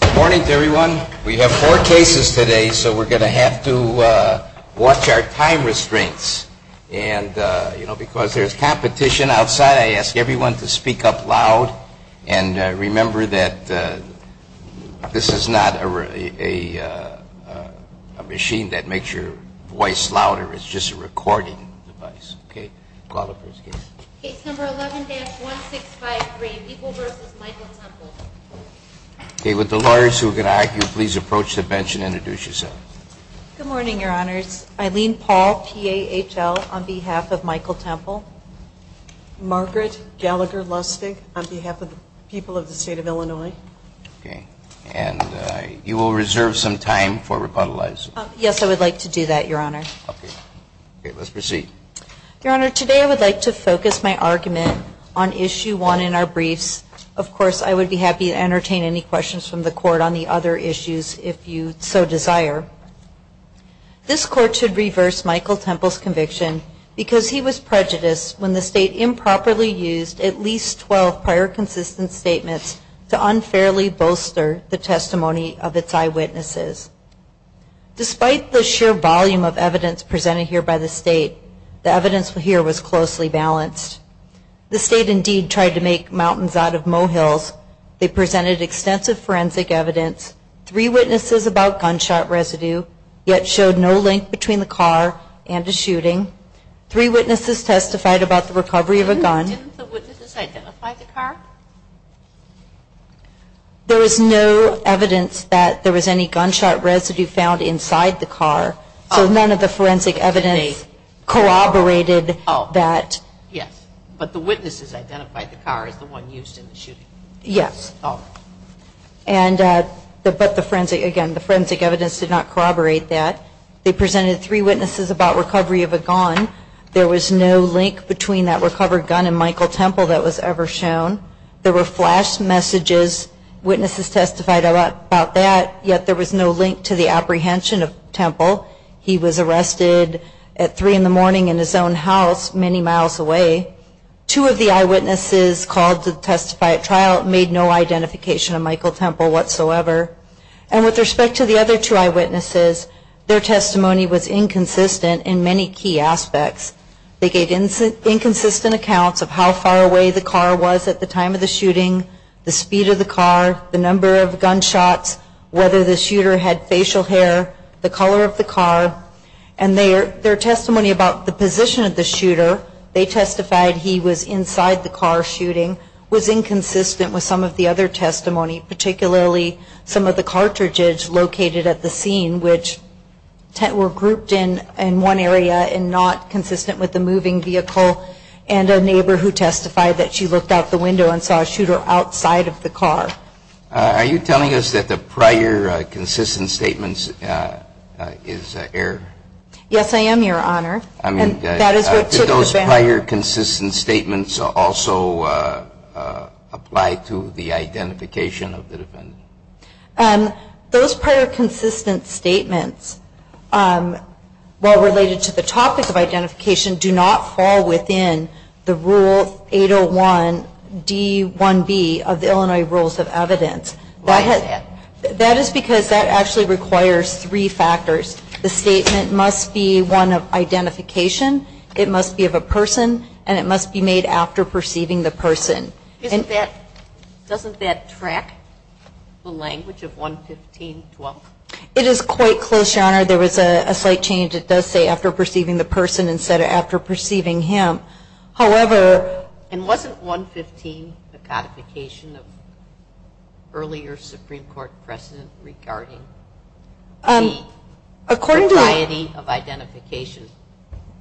Good morning to everyone. We have four cases today, so we're going to have to watch our time restraints. And, you know, because there's competition outside, I ask everyone to speak up loud. And remember that this is not a machine that makes your voice louder. It's just a recording device. Okay. Call the first case. Case number 11-1653, People v. Michael Temple. Okay. With the lawyers who are going to argue, please approach the bench and introduce yourselves. Good morning, Your Honors. Eileen Paul, PAHL, on behalf of Michael Temple. Margaret Gallagher Lustig, on behalf of the people of the state of Illinois. Okay. And you will reserve some time for rebuttalizing. Yes, I would like to do that, Your Honor. Okay. Let's proceed. Your Honor, today I would like to focus my argument on Issue 1 in our briefs. Of course, I would be happy to entertain any questions from the Court on the other issues if you so desire. This Court should reverse Michael Temple's conviction because he was prejudiced when the state improperly used at least 12 prior consistent statements to unfairly bolster the testimony of its eyewitnesses. Despite the sheer volume of evidence presented here by the state, the evidence here was closely balanced. The state indeed tried to make mountains out of mohills. They presented extensive forensic evidence. Three witnesses about gunshot residue, yet showed no link between the car and the shooting. Three witnesses testified about the recovery of a gun. Didn't the witnesses identify the car? There was no evidence that there was any gunshot residue found inside the car. So none of the forensic evidence corroborated that. Yes. But the witnesses identified the car as the one used in the shooting. Yes. Oh. And, but the forensic, again, the forensic evidence did not corroborate that. They presented three witnesses about recovery of a gun. There was no link between that recovered gun and Michael Temple that was ever shown. There were flash messages. Witnesses testified about that, yet there was no link to the apprehension of Temple. He was arrested at 3 in the morning in his own house many miles away. Two of the eyewitnesses called to testify at trial made no identification of Michael Temple whatsoever. And with respect to the other two eyewitnesses, their testimony was inconsistent in many key aspects. They gave inconsistent accounts of how far away the car was at the time of the shooting, the speed of the car, the number of gunshots, whether the shooter had facial hair, the color of the car. And their testimony about the position of the shooter, they testified he was inside the car shooting, was inconsistent with some of the other testimony, particularly some of the cartridges located at the scene, which were grouped in one area and not consistent with the moving vehicle, and a neighbor who testified that she looked out the window and saw a shooter outside of the car. Are you telling us that the prior consistent statements is error? Yes, I am, Your Honor. Did those prior consistent statements also apply to the identification of the defendant? Those prior consistent statements, while related to the topic of identification, do not fall within the Rule 801D1B of the Illinois Rules of Evidence. Why is that? That is because that actually requires three factors. The statement must be one of identification, it must be of a person, and it must be made after perceiving the person. Doesn't that track the language of 115.12? It is quite close, Your Honor. There was a slight change. It does say after perceiving the person instead of after perceiving him. However, and wasn't 115 the codification of earlier Supreme Court precedent regarding the variety of identification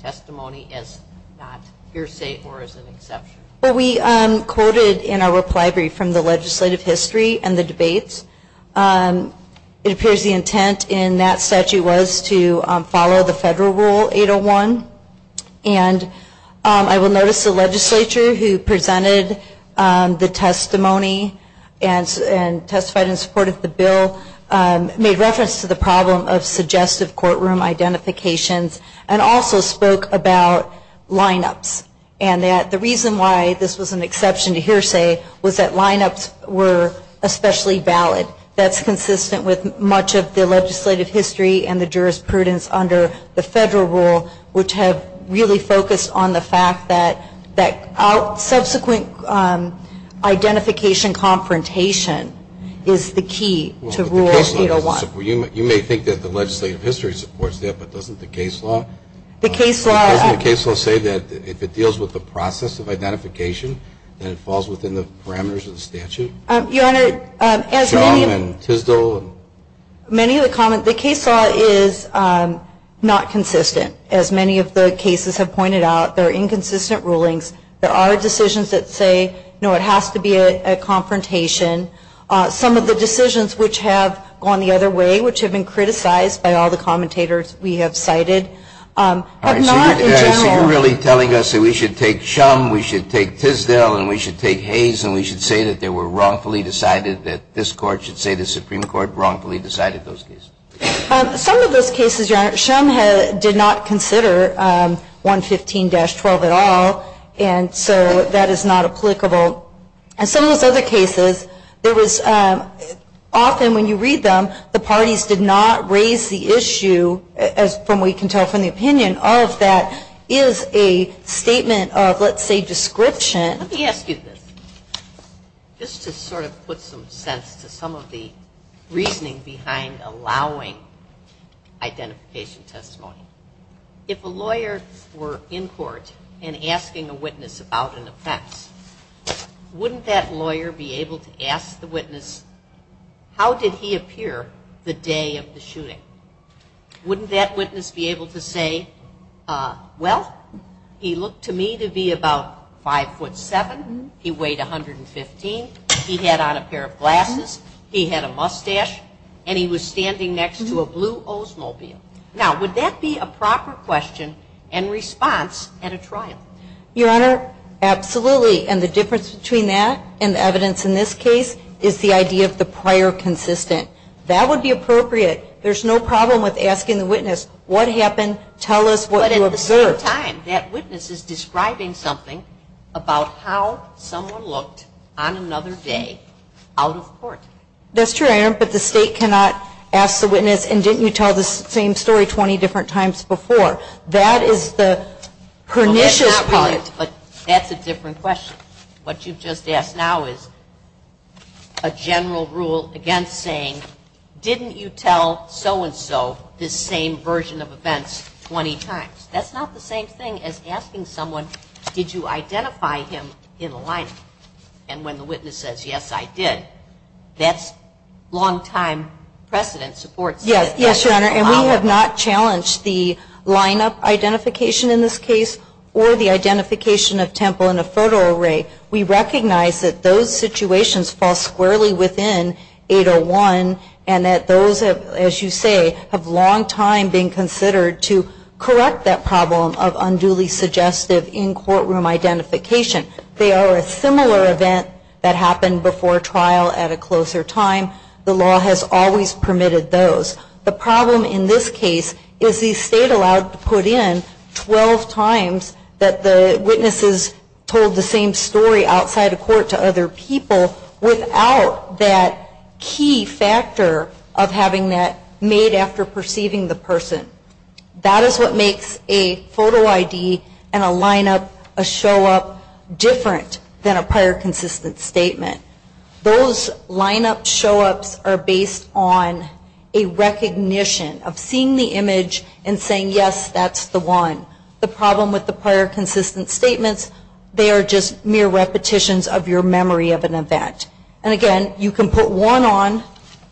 testimony as not hearsay or as an exception? Well, we quoted in our reply brief from the legislative history and the debates. It appears the intent in that statute was to follow the federal Rule 801. And I will notice the legislature who presented the testimony and testified in support of the bill made reference to the problem of suggestive courtroom identifications and also spoke about lineups. And that the reason why this was an exception to hearsay was that lineups were especially valid. That's consistent with much of the legislative history and the jurisprudence under the federal rule, which have really focused on the fact that subsequent identification confrontation is the key to Rule 801. You may think that the legislative history supports that, but doesn't the case law? The case law. Doesn't the case law say that if it deals with the process of identification, then it falls within the parameters of the statute? Your Honor, as many of the comments, the case law is not consistent. As many of the cases have pointed out, there are inconsistent rulings. There are decisions that say, no, it has to be a confrontation. Some of the decisions which have gone the other way, which have been criticized by all the commentators we have cited, but not in general. So you're really telling us that we should take Shum, we should take Tisdale, and we should take Hayes, and we should say that they were wrongfully decided, that this Court should say the Supreme Court wrongfully decided those cases? Some of those cases, Your Honor, Shum did not consider 115-12 at all. And so that is not applicable. And some of those other cases, often when you read them, the parties did not raise the issue from what you can tell from the opinion. All of that is a statement of, let's say, description. Let me ask you this, just to sort of put some sense to some of the reasoning behind allowing identification testimony. If a lawyer were in court and asking a witness about an offense, wouldn't that lawyer be able to ask the witness, how did he appear the day of the shooting? Wouldn't that witness be able to say, well, he looked to me to be about 5'7", he weighed 115, he had on a pair of glasses, he had a mustache, and he was standing next to a blue Oldsmobile. Now, would that be a proper question and response at a trial? Your Honor, absolutely. And the difference between that and the evidence in this case is the idea of the prior consistent. That would be appropriate. There's no problem with asking the witness, what happened, tell us what you observed. But at the same time, that witness is describing something about how someone looked on another day out of court. That's true, Your Honor, but the State cannot ask the witness, and didn't you tell the same story 20 different times before? That is the pernicious point. But that's a different question. What you've just asked now is a general rule against saying, didn't you tell so-and-so this same version of events 20 times? That's not the same thing as asking someone, did you identify him in the lineup? And when the witness says, yes, I did, that's long-time precedent support. Yes, Your Honor, and we have not challenged the lineup identification in this case or the identification of Temple in a photo array. We recognize that those situations fall squarely within 801 and that those, as you say, have long time been considered to correct that problem of unduly suggestive in-courtroom identification. They are a similar event that happened before trial at a closer time. The law has always permitted those. The problem in this case is the State allowed to put in 12 times that the witnesses told the same story outside of court to other people without that key factor of having that made after perceiving the person. That is what makes a photo ID and a lineup, a show-up, different than a prior consistent statement. Those lineup show-ups are based on a recognition of seeing the image and saying, yes, that's the one. The problem with the prior consistent statements, they are just mere repetitions of your memory of an event. And again, you can put one on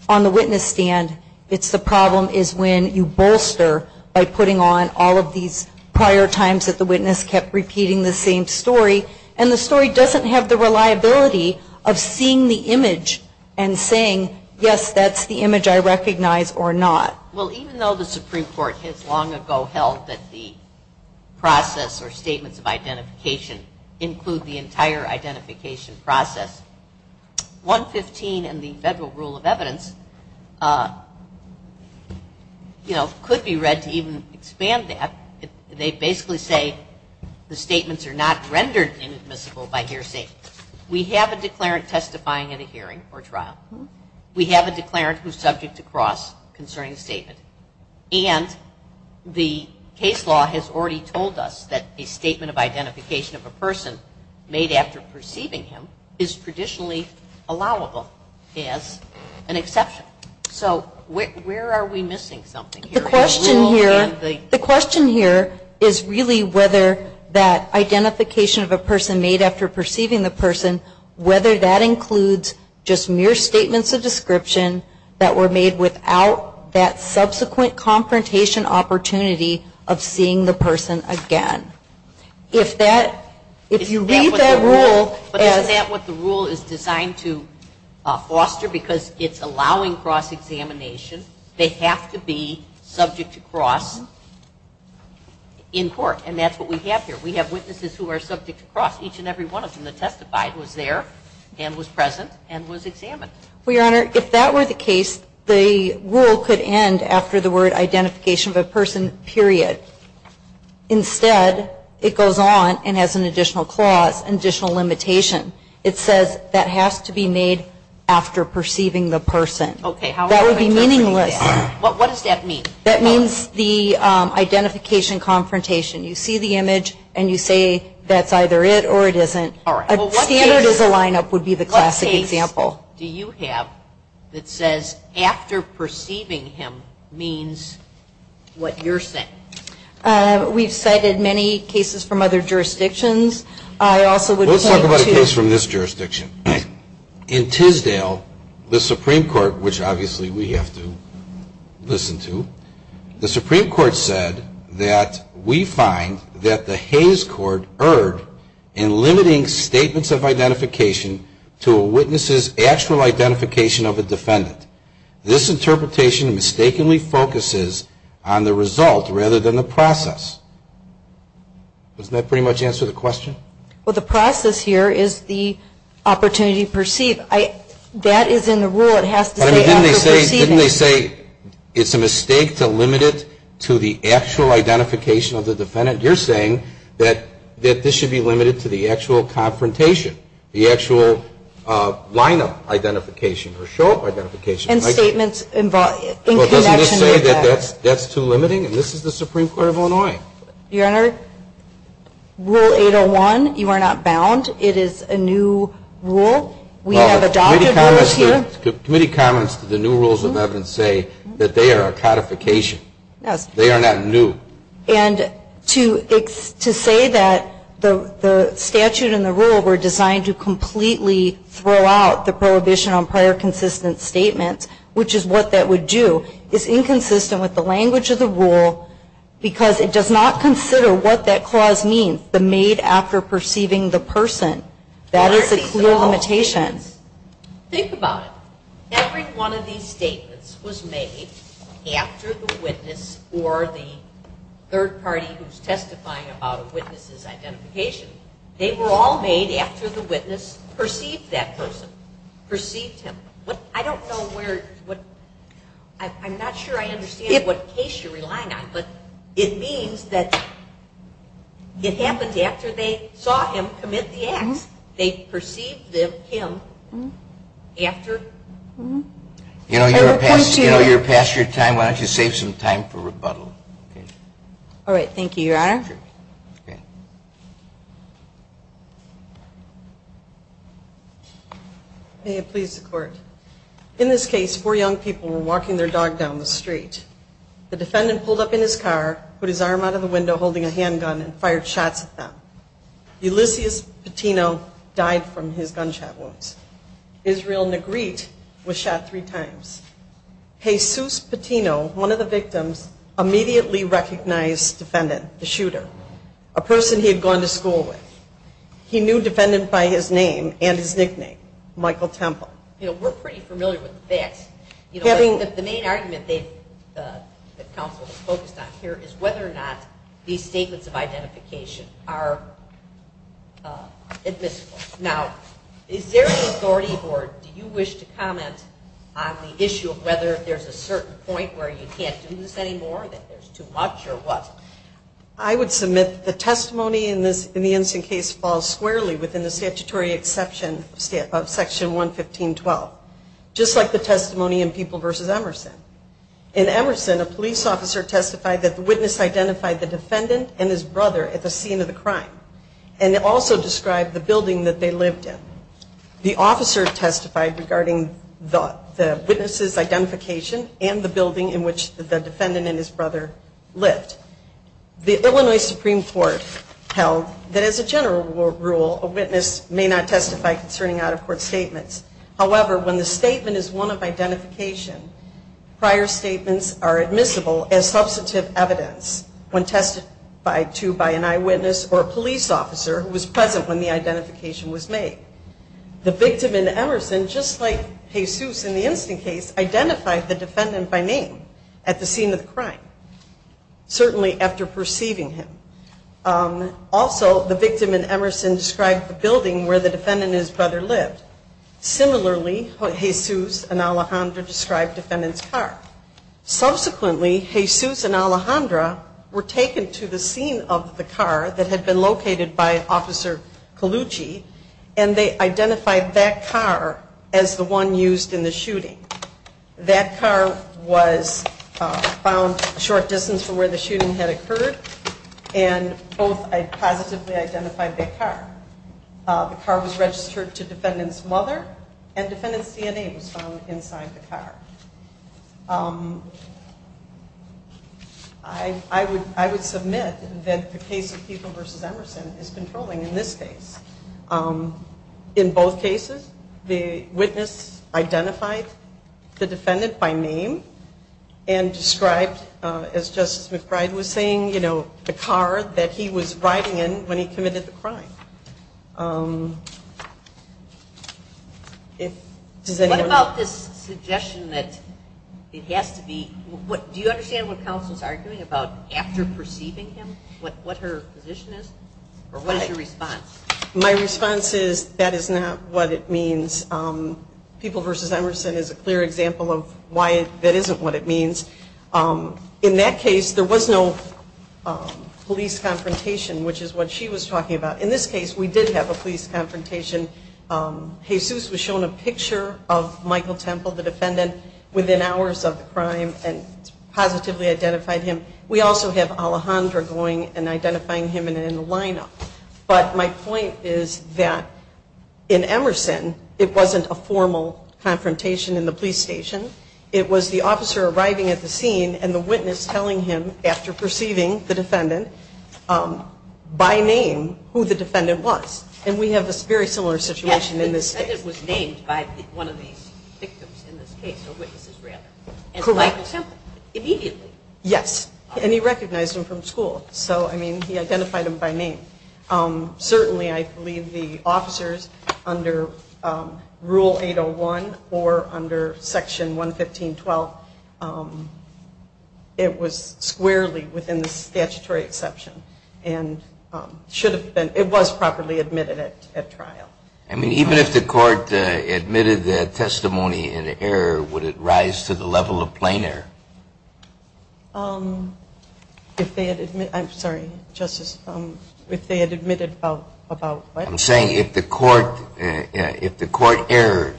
on the witness stand. It's the problem is when you bolster by putting on all of these prior times that the witness kept repeating the same story, and the story doesn't have the reliability of seeing the image and saying, yes, that's the image I recognize or not. Well, even though the Supreme Court has long ago held that the process or statements of identification include the entire identification process, 115 and the Federal Rule of Evidence, you know, could be read to even expand that. They basically say the statements are not rendered inadmissible by hearsay. We have a declarant testifying at a hearing or trial. We have a declarant who is subject to cross concerning statement. And the case law has already told us that a statement of identification of a person made after perceiving him is traditionally allowable as an exception. So where are we missing something here? The question here is really whether that identification of a person made after perceiving the person, whether that includes just mere statements of description that were made without that subsequent confrontation opportunity of seeing the person again. If that, if you read that rule. But isn't that what the rule is designed to foster? Because it's allowing cross examination. It's allowing cross examination. They have to be subject to cross in court. And that's what we have here. We have witnesses who are subject to cross. Each and every one of them that testified was there and was present and was examined. Well, Your Honor, if that were the case, the rule could end after the word identification of a person, period. Instead, it goes on and has an additional clause, an additional limitation. It says that has to be made after perceiving the person. Okay. That would be meaningless. What does that mean? That means the identification confrontation. You see the image and you say that's either it or it isn't. A standard as a lineup would be the classic example. What case do you have that says after perceiving him means what you're saying? We've cited many cases from other jurisdictions. I also would point to. Let's talk about a case from this jurisdiction. In Tisdale, the Supreme Court, which obviously we have to listen to, the Supreme Court said that we find that the Hayes Court erred in limiting statements of identification to a witness's actual identification of a defendant. This interpretation mistakenly focuses on the result rather than the process. Doesn't that pretty much answer the question? Well, the process here is the opportunity to perceive. That is in the rule. It has to say after perceiving. Didn't they say it's a mistake to limit it to the actual identification of the defendant? You're saying that this should be limited to the actual confrontation, the actual lineup identification or show up identification. And statements in connection with that. Well, doesn't this say that that's too limiting? And this is the Supreme Court of Illinois. Your Honor, Rule 801, you are not bound. It is a new rule. We have adopted rules here. Committee comments to the new rules of evidence say that they are a codification. Yes. They are not new. And to say that the statute and the rule were designed to completely throw out the prohibition on prior consistent statements, which is what that would do, is inconsistent with the language of the rule because it does not consider what that clause means, the made after perceiving the person. That is a clear limitation. Think about it. Every one of these statements was made after the witness or the third party who's testifying about a witness's identification. They were all made after the witness perceived that person, perceived him. I don't know where, I'm not sure I understand what case you're relying on. But it means that it happened after they saw him commit the acts. They perceived him after. You know, you're past your time. Why don't you save some time for rebuttal? All right. Thank you, Your Honor. Sure. Okay. May it please the Court. In this case, four young people were walking their dog down the street. The defendant pulled up in his car, put his arm out of the window holding a handgun and fired shots at them. Ulysses Patino died from his gunshot wounds. Israel Negrete was shot three times. Jesus Patino, one of the victims, immediately recognized the defendant, the shooter. A person he had gone to school with. He knew defendant by his name and his nickname, Michael Temple. You know, we're pretty familiar with the facts. The main argument that counsel has focused on here is whether or not these statements of identification are admissible. Now, is there an authority or do you wish to comment on the issue of whether there's a certain point where you can't do this anymore, that there's too much or what? I would submit the testimony in the Ensign case falls squarely within the statutory exception of Section 115.12. Just like the testimony in People v. Emerson. In Emerson, a police officer testified that the witness identified the defendant and his brother at the scene of the crime. And also described the building that they lived in. The officer testified regarding the witness's identification and the building in which the Illinois Supreme Court held that as a general rule, a witness may not testify concerning out-of-court statements. However, when the statement is one of identification, prior statements are admissible as substantive evidence when testified to by an eyewitness or a police officer who was present when the identification was made. The victim in Emerson, just like Jesus in the Ensign case, identified the defendant by name at the scene of the crime. Certainly after perceiving him. Also, the victim in Emerson described the building where the defendant and his brother lived. Similarly, Jesus and Alejandra described the defendant's car. Subsequently, Jesus and Alejandra were taken to the scene of the car that had been located by Officer Colucci, and they identified that car as the one used in the shooting. That car was found a short distance from where the shooting had occurred, and both positively identified that car. The car was registered to defendant's mother, and defendant's DNA was found inside the car. I would submit that the case of Pico v. Emerson is controlling in this case. In both cases, the witness identified the defendant by name and described, as Justice McBride was saying, the car that he was riding in when he committed the crime. What about this suggestion that it has to be, do you understand what counsel is arguing about after perceiving him, what her position is? Or what is your response? My response is that is not what it means. Pico v. Emerson is a clear example of why that isn't what it means. In that case, there was no police confrontation, which is what she was talking about. In this case, we did have a police confrontation. Jesus was shown a picture of Michael Temple, the defendant, within hours of the crime, and positively identified him. We also have Alejandra going and identifying him in the lineup. But my point is that in Emerson, it wasn't a formal confrontation in the police station. It was the officer arriving at the scene and the witness telling him, after perceiving the defendant, by name, who the defendant was. And we have a very similar situation in this case. Yes, the defendant was named by one of the victims in this case, or witnesses, rather. Correct. And Michael Temple, immediately. Yes. And he recognized him from school. So, I mean, he identified him by name. Certainly, I believe the officers under Rule 801 or under Section 115.12, it was squarely within the statutory exception and should have been, it was properly admitted at trial. I mean, even if the Court admitted that testimony in error, would it rise to the level of plain error? If they had admitted, I'm sorry, Justice, if they had admitted about what? I'm saying if the Court erred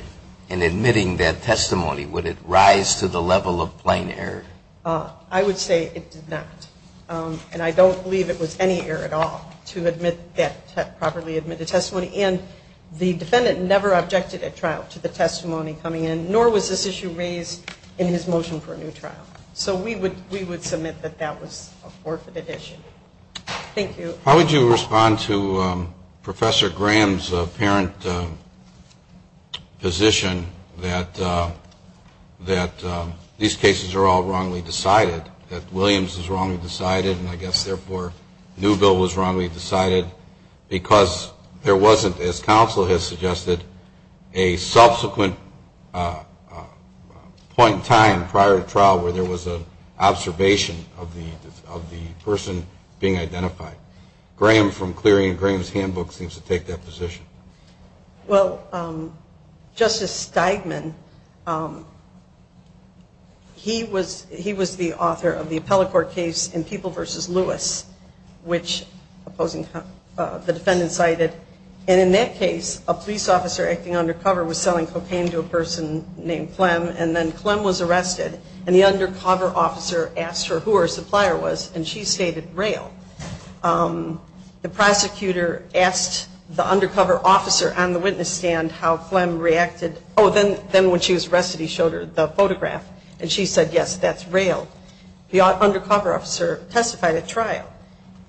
in admitting that testimony, would it rise to the level of plain error? I would say it did not. And I don't believe it was any error at all to admit that properly admitted testimony. And the defendant never objected at trial to the testimony coming in, nor was this issue raised in his motion for a new trial. So we would submit that that was a forfeited issue. Thank you. How would you respond to Professor Graham's apparent position that these cases are all wrongly decided, that Williams is wrongly decided, and I guess, therefore, Newbill was wrongly decided, because there wasn't, as counsel has suggested, a subsequent point in time prior to trial where there was an observation of the person being identified. Graham, from clearing Graham's handbook, seems to take that position. Well, Justice Steigman, he was the author of the Appellate Court case in People v. Lewis, which the defendant cited. And in that case, a police officer acting undercover was selling cocaine to a person named Clem, and then Clem was arrested, and the undercover officer asked her who her supplier was, and she stated Rael. The prosecutor asked the undercover officer on the witness stand how Clem reacted. Oh, then when she was arrested, he showed her the photograph, and she said, yes, that's Rael. The undercover officer testified at trial,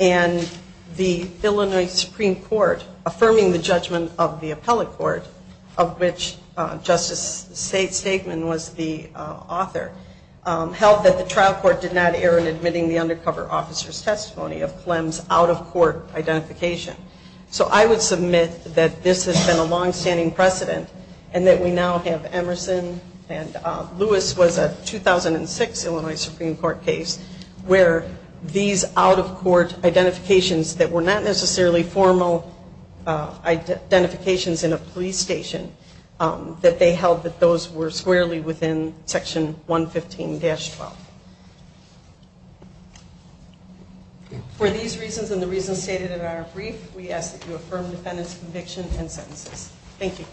and the Illinois Supreme Court, affirming the judgment of the Appellate Court, of which Justice Steigman was the author, held that the trial court did not err in admitting the undercover officer's testimony of Clem's out-of-court identification. So I would submit that this has been a longstanding precedent and that we now have Emerson and Lewis was a 2006 Illinois Supreme Court case where these out-of-court identifications that were not necessarily formal identifications in a police station, that they held that those were squarely within Section 115-12. For these reasons and the reasons stated in our brief, we ask that you affirm the defendant's conviction and sentences. Thank you.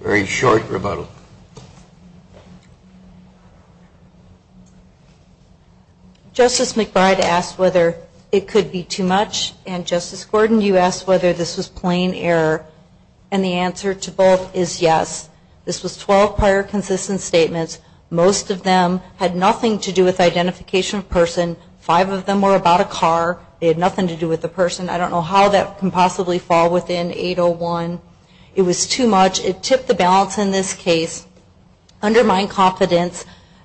Very short rebuttal. Justice McBride asked whether it could be too much, and Justice Gordon, you asked whether this was plain error, and the answer to both is yes. This was 12 prior consistent statements. Most of them had nothing to do with identification of person. Five of them were about a car. They had nothing to do with the person. I don't know how that can possibly fall within 801. It was too much. It tipped the balance in this case, undermined confidence.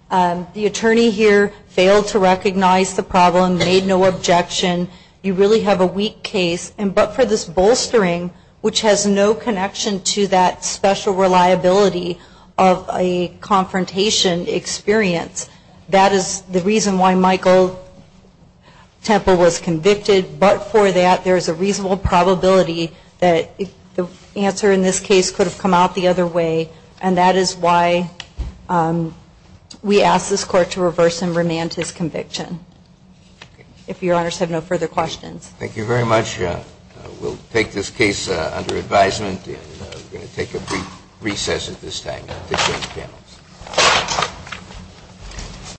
The attorney here failed to recognize the problem, made no objection. You really have a weak case. But for this bolstering, which has no connection to that special reliability of a confrontation experience, that is the reason why Michael Temple was convicted. But for that, there is a reasonable probability that the answer in this case could have come out the other way, and that is why we ask this Court to reverse and remand his conviction. If Your Honors have no further questions. Thank you very much. We'll take this case under advisement, and we're going to take a brief recess at this time. Thank you.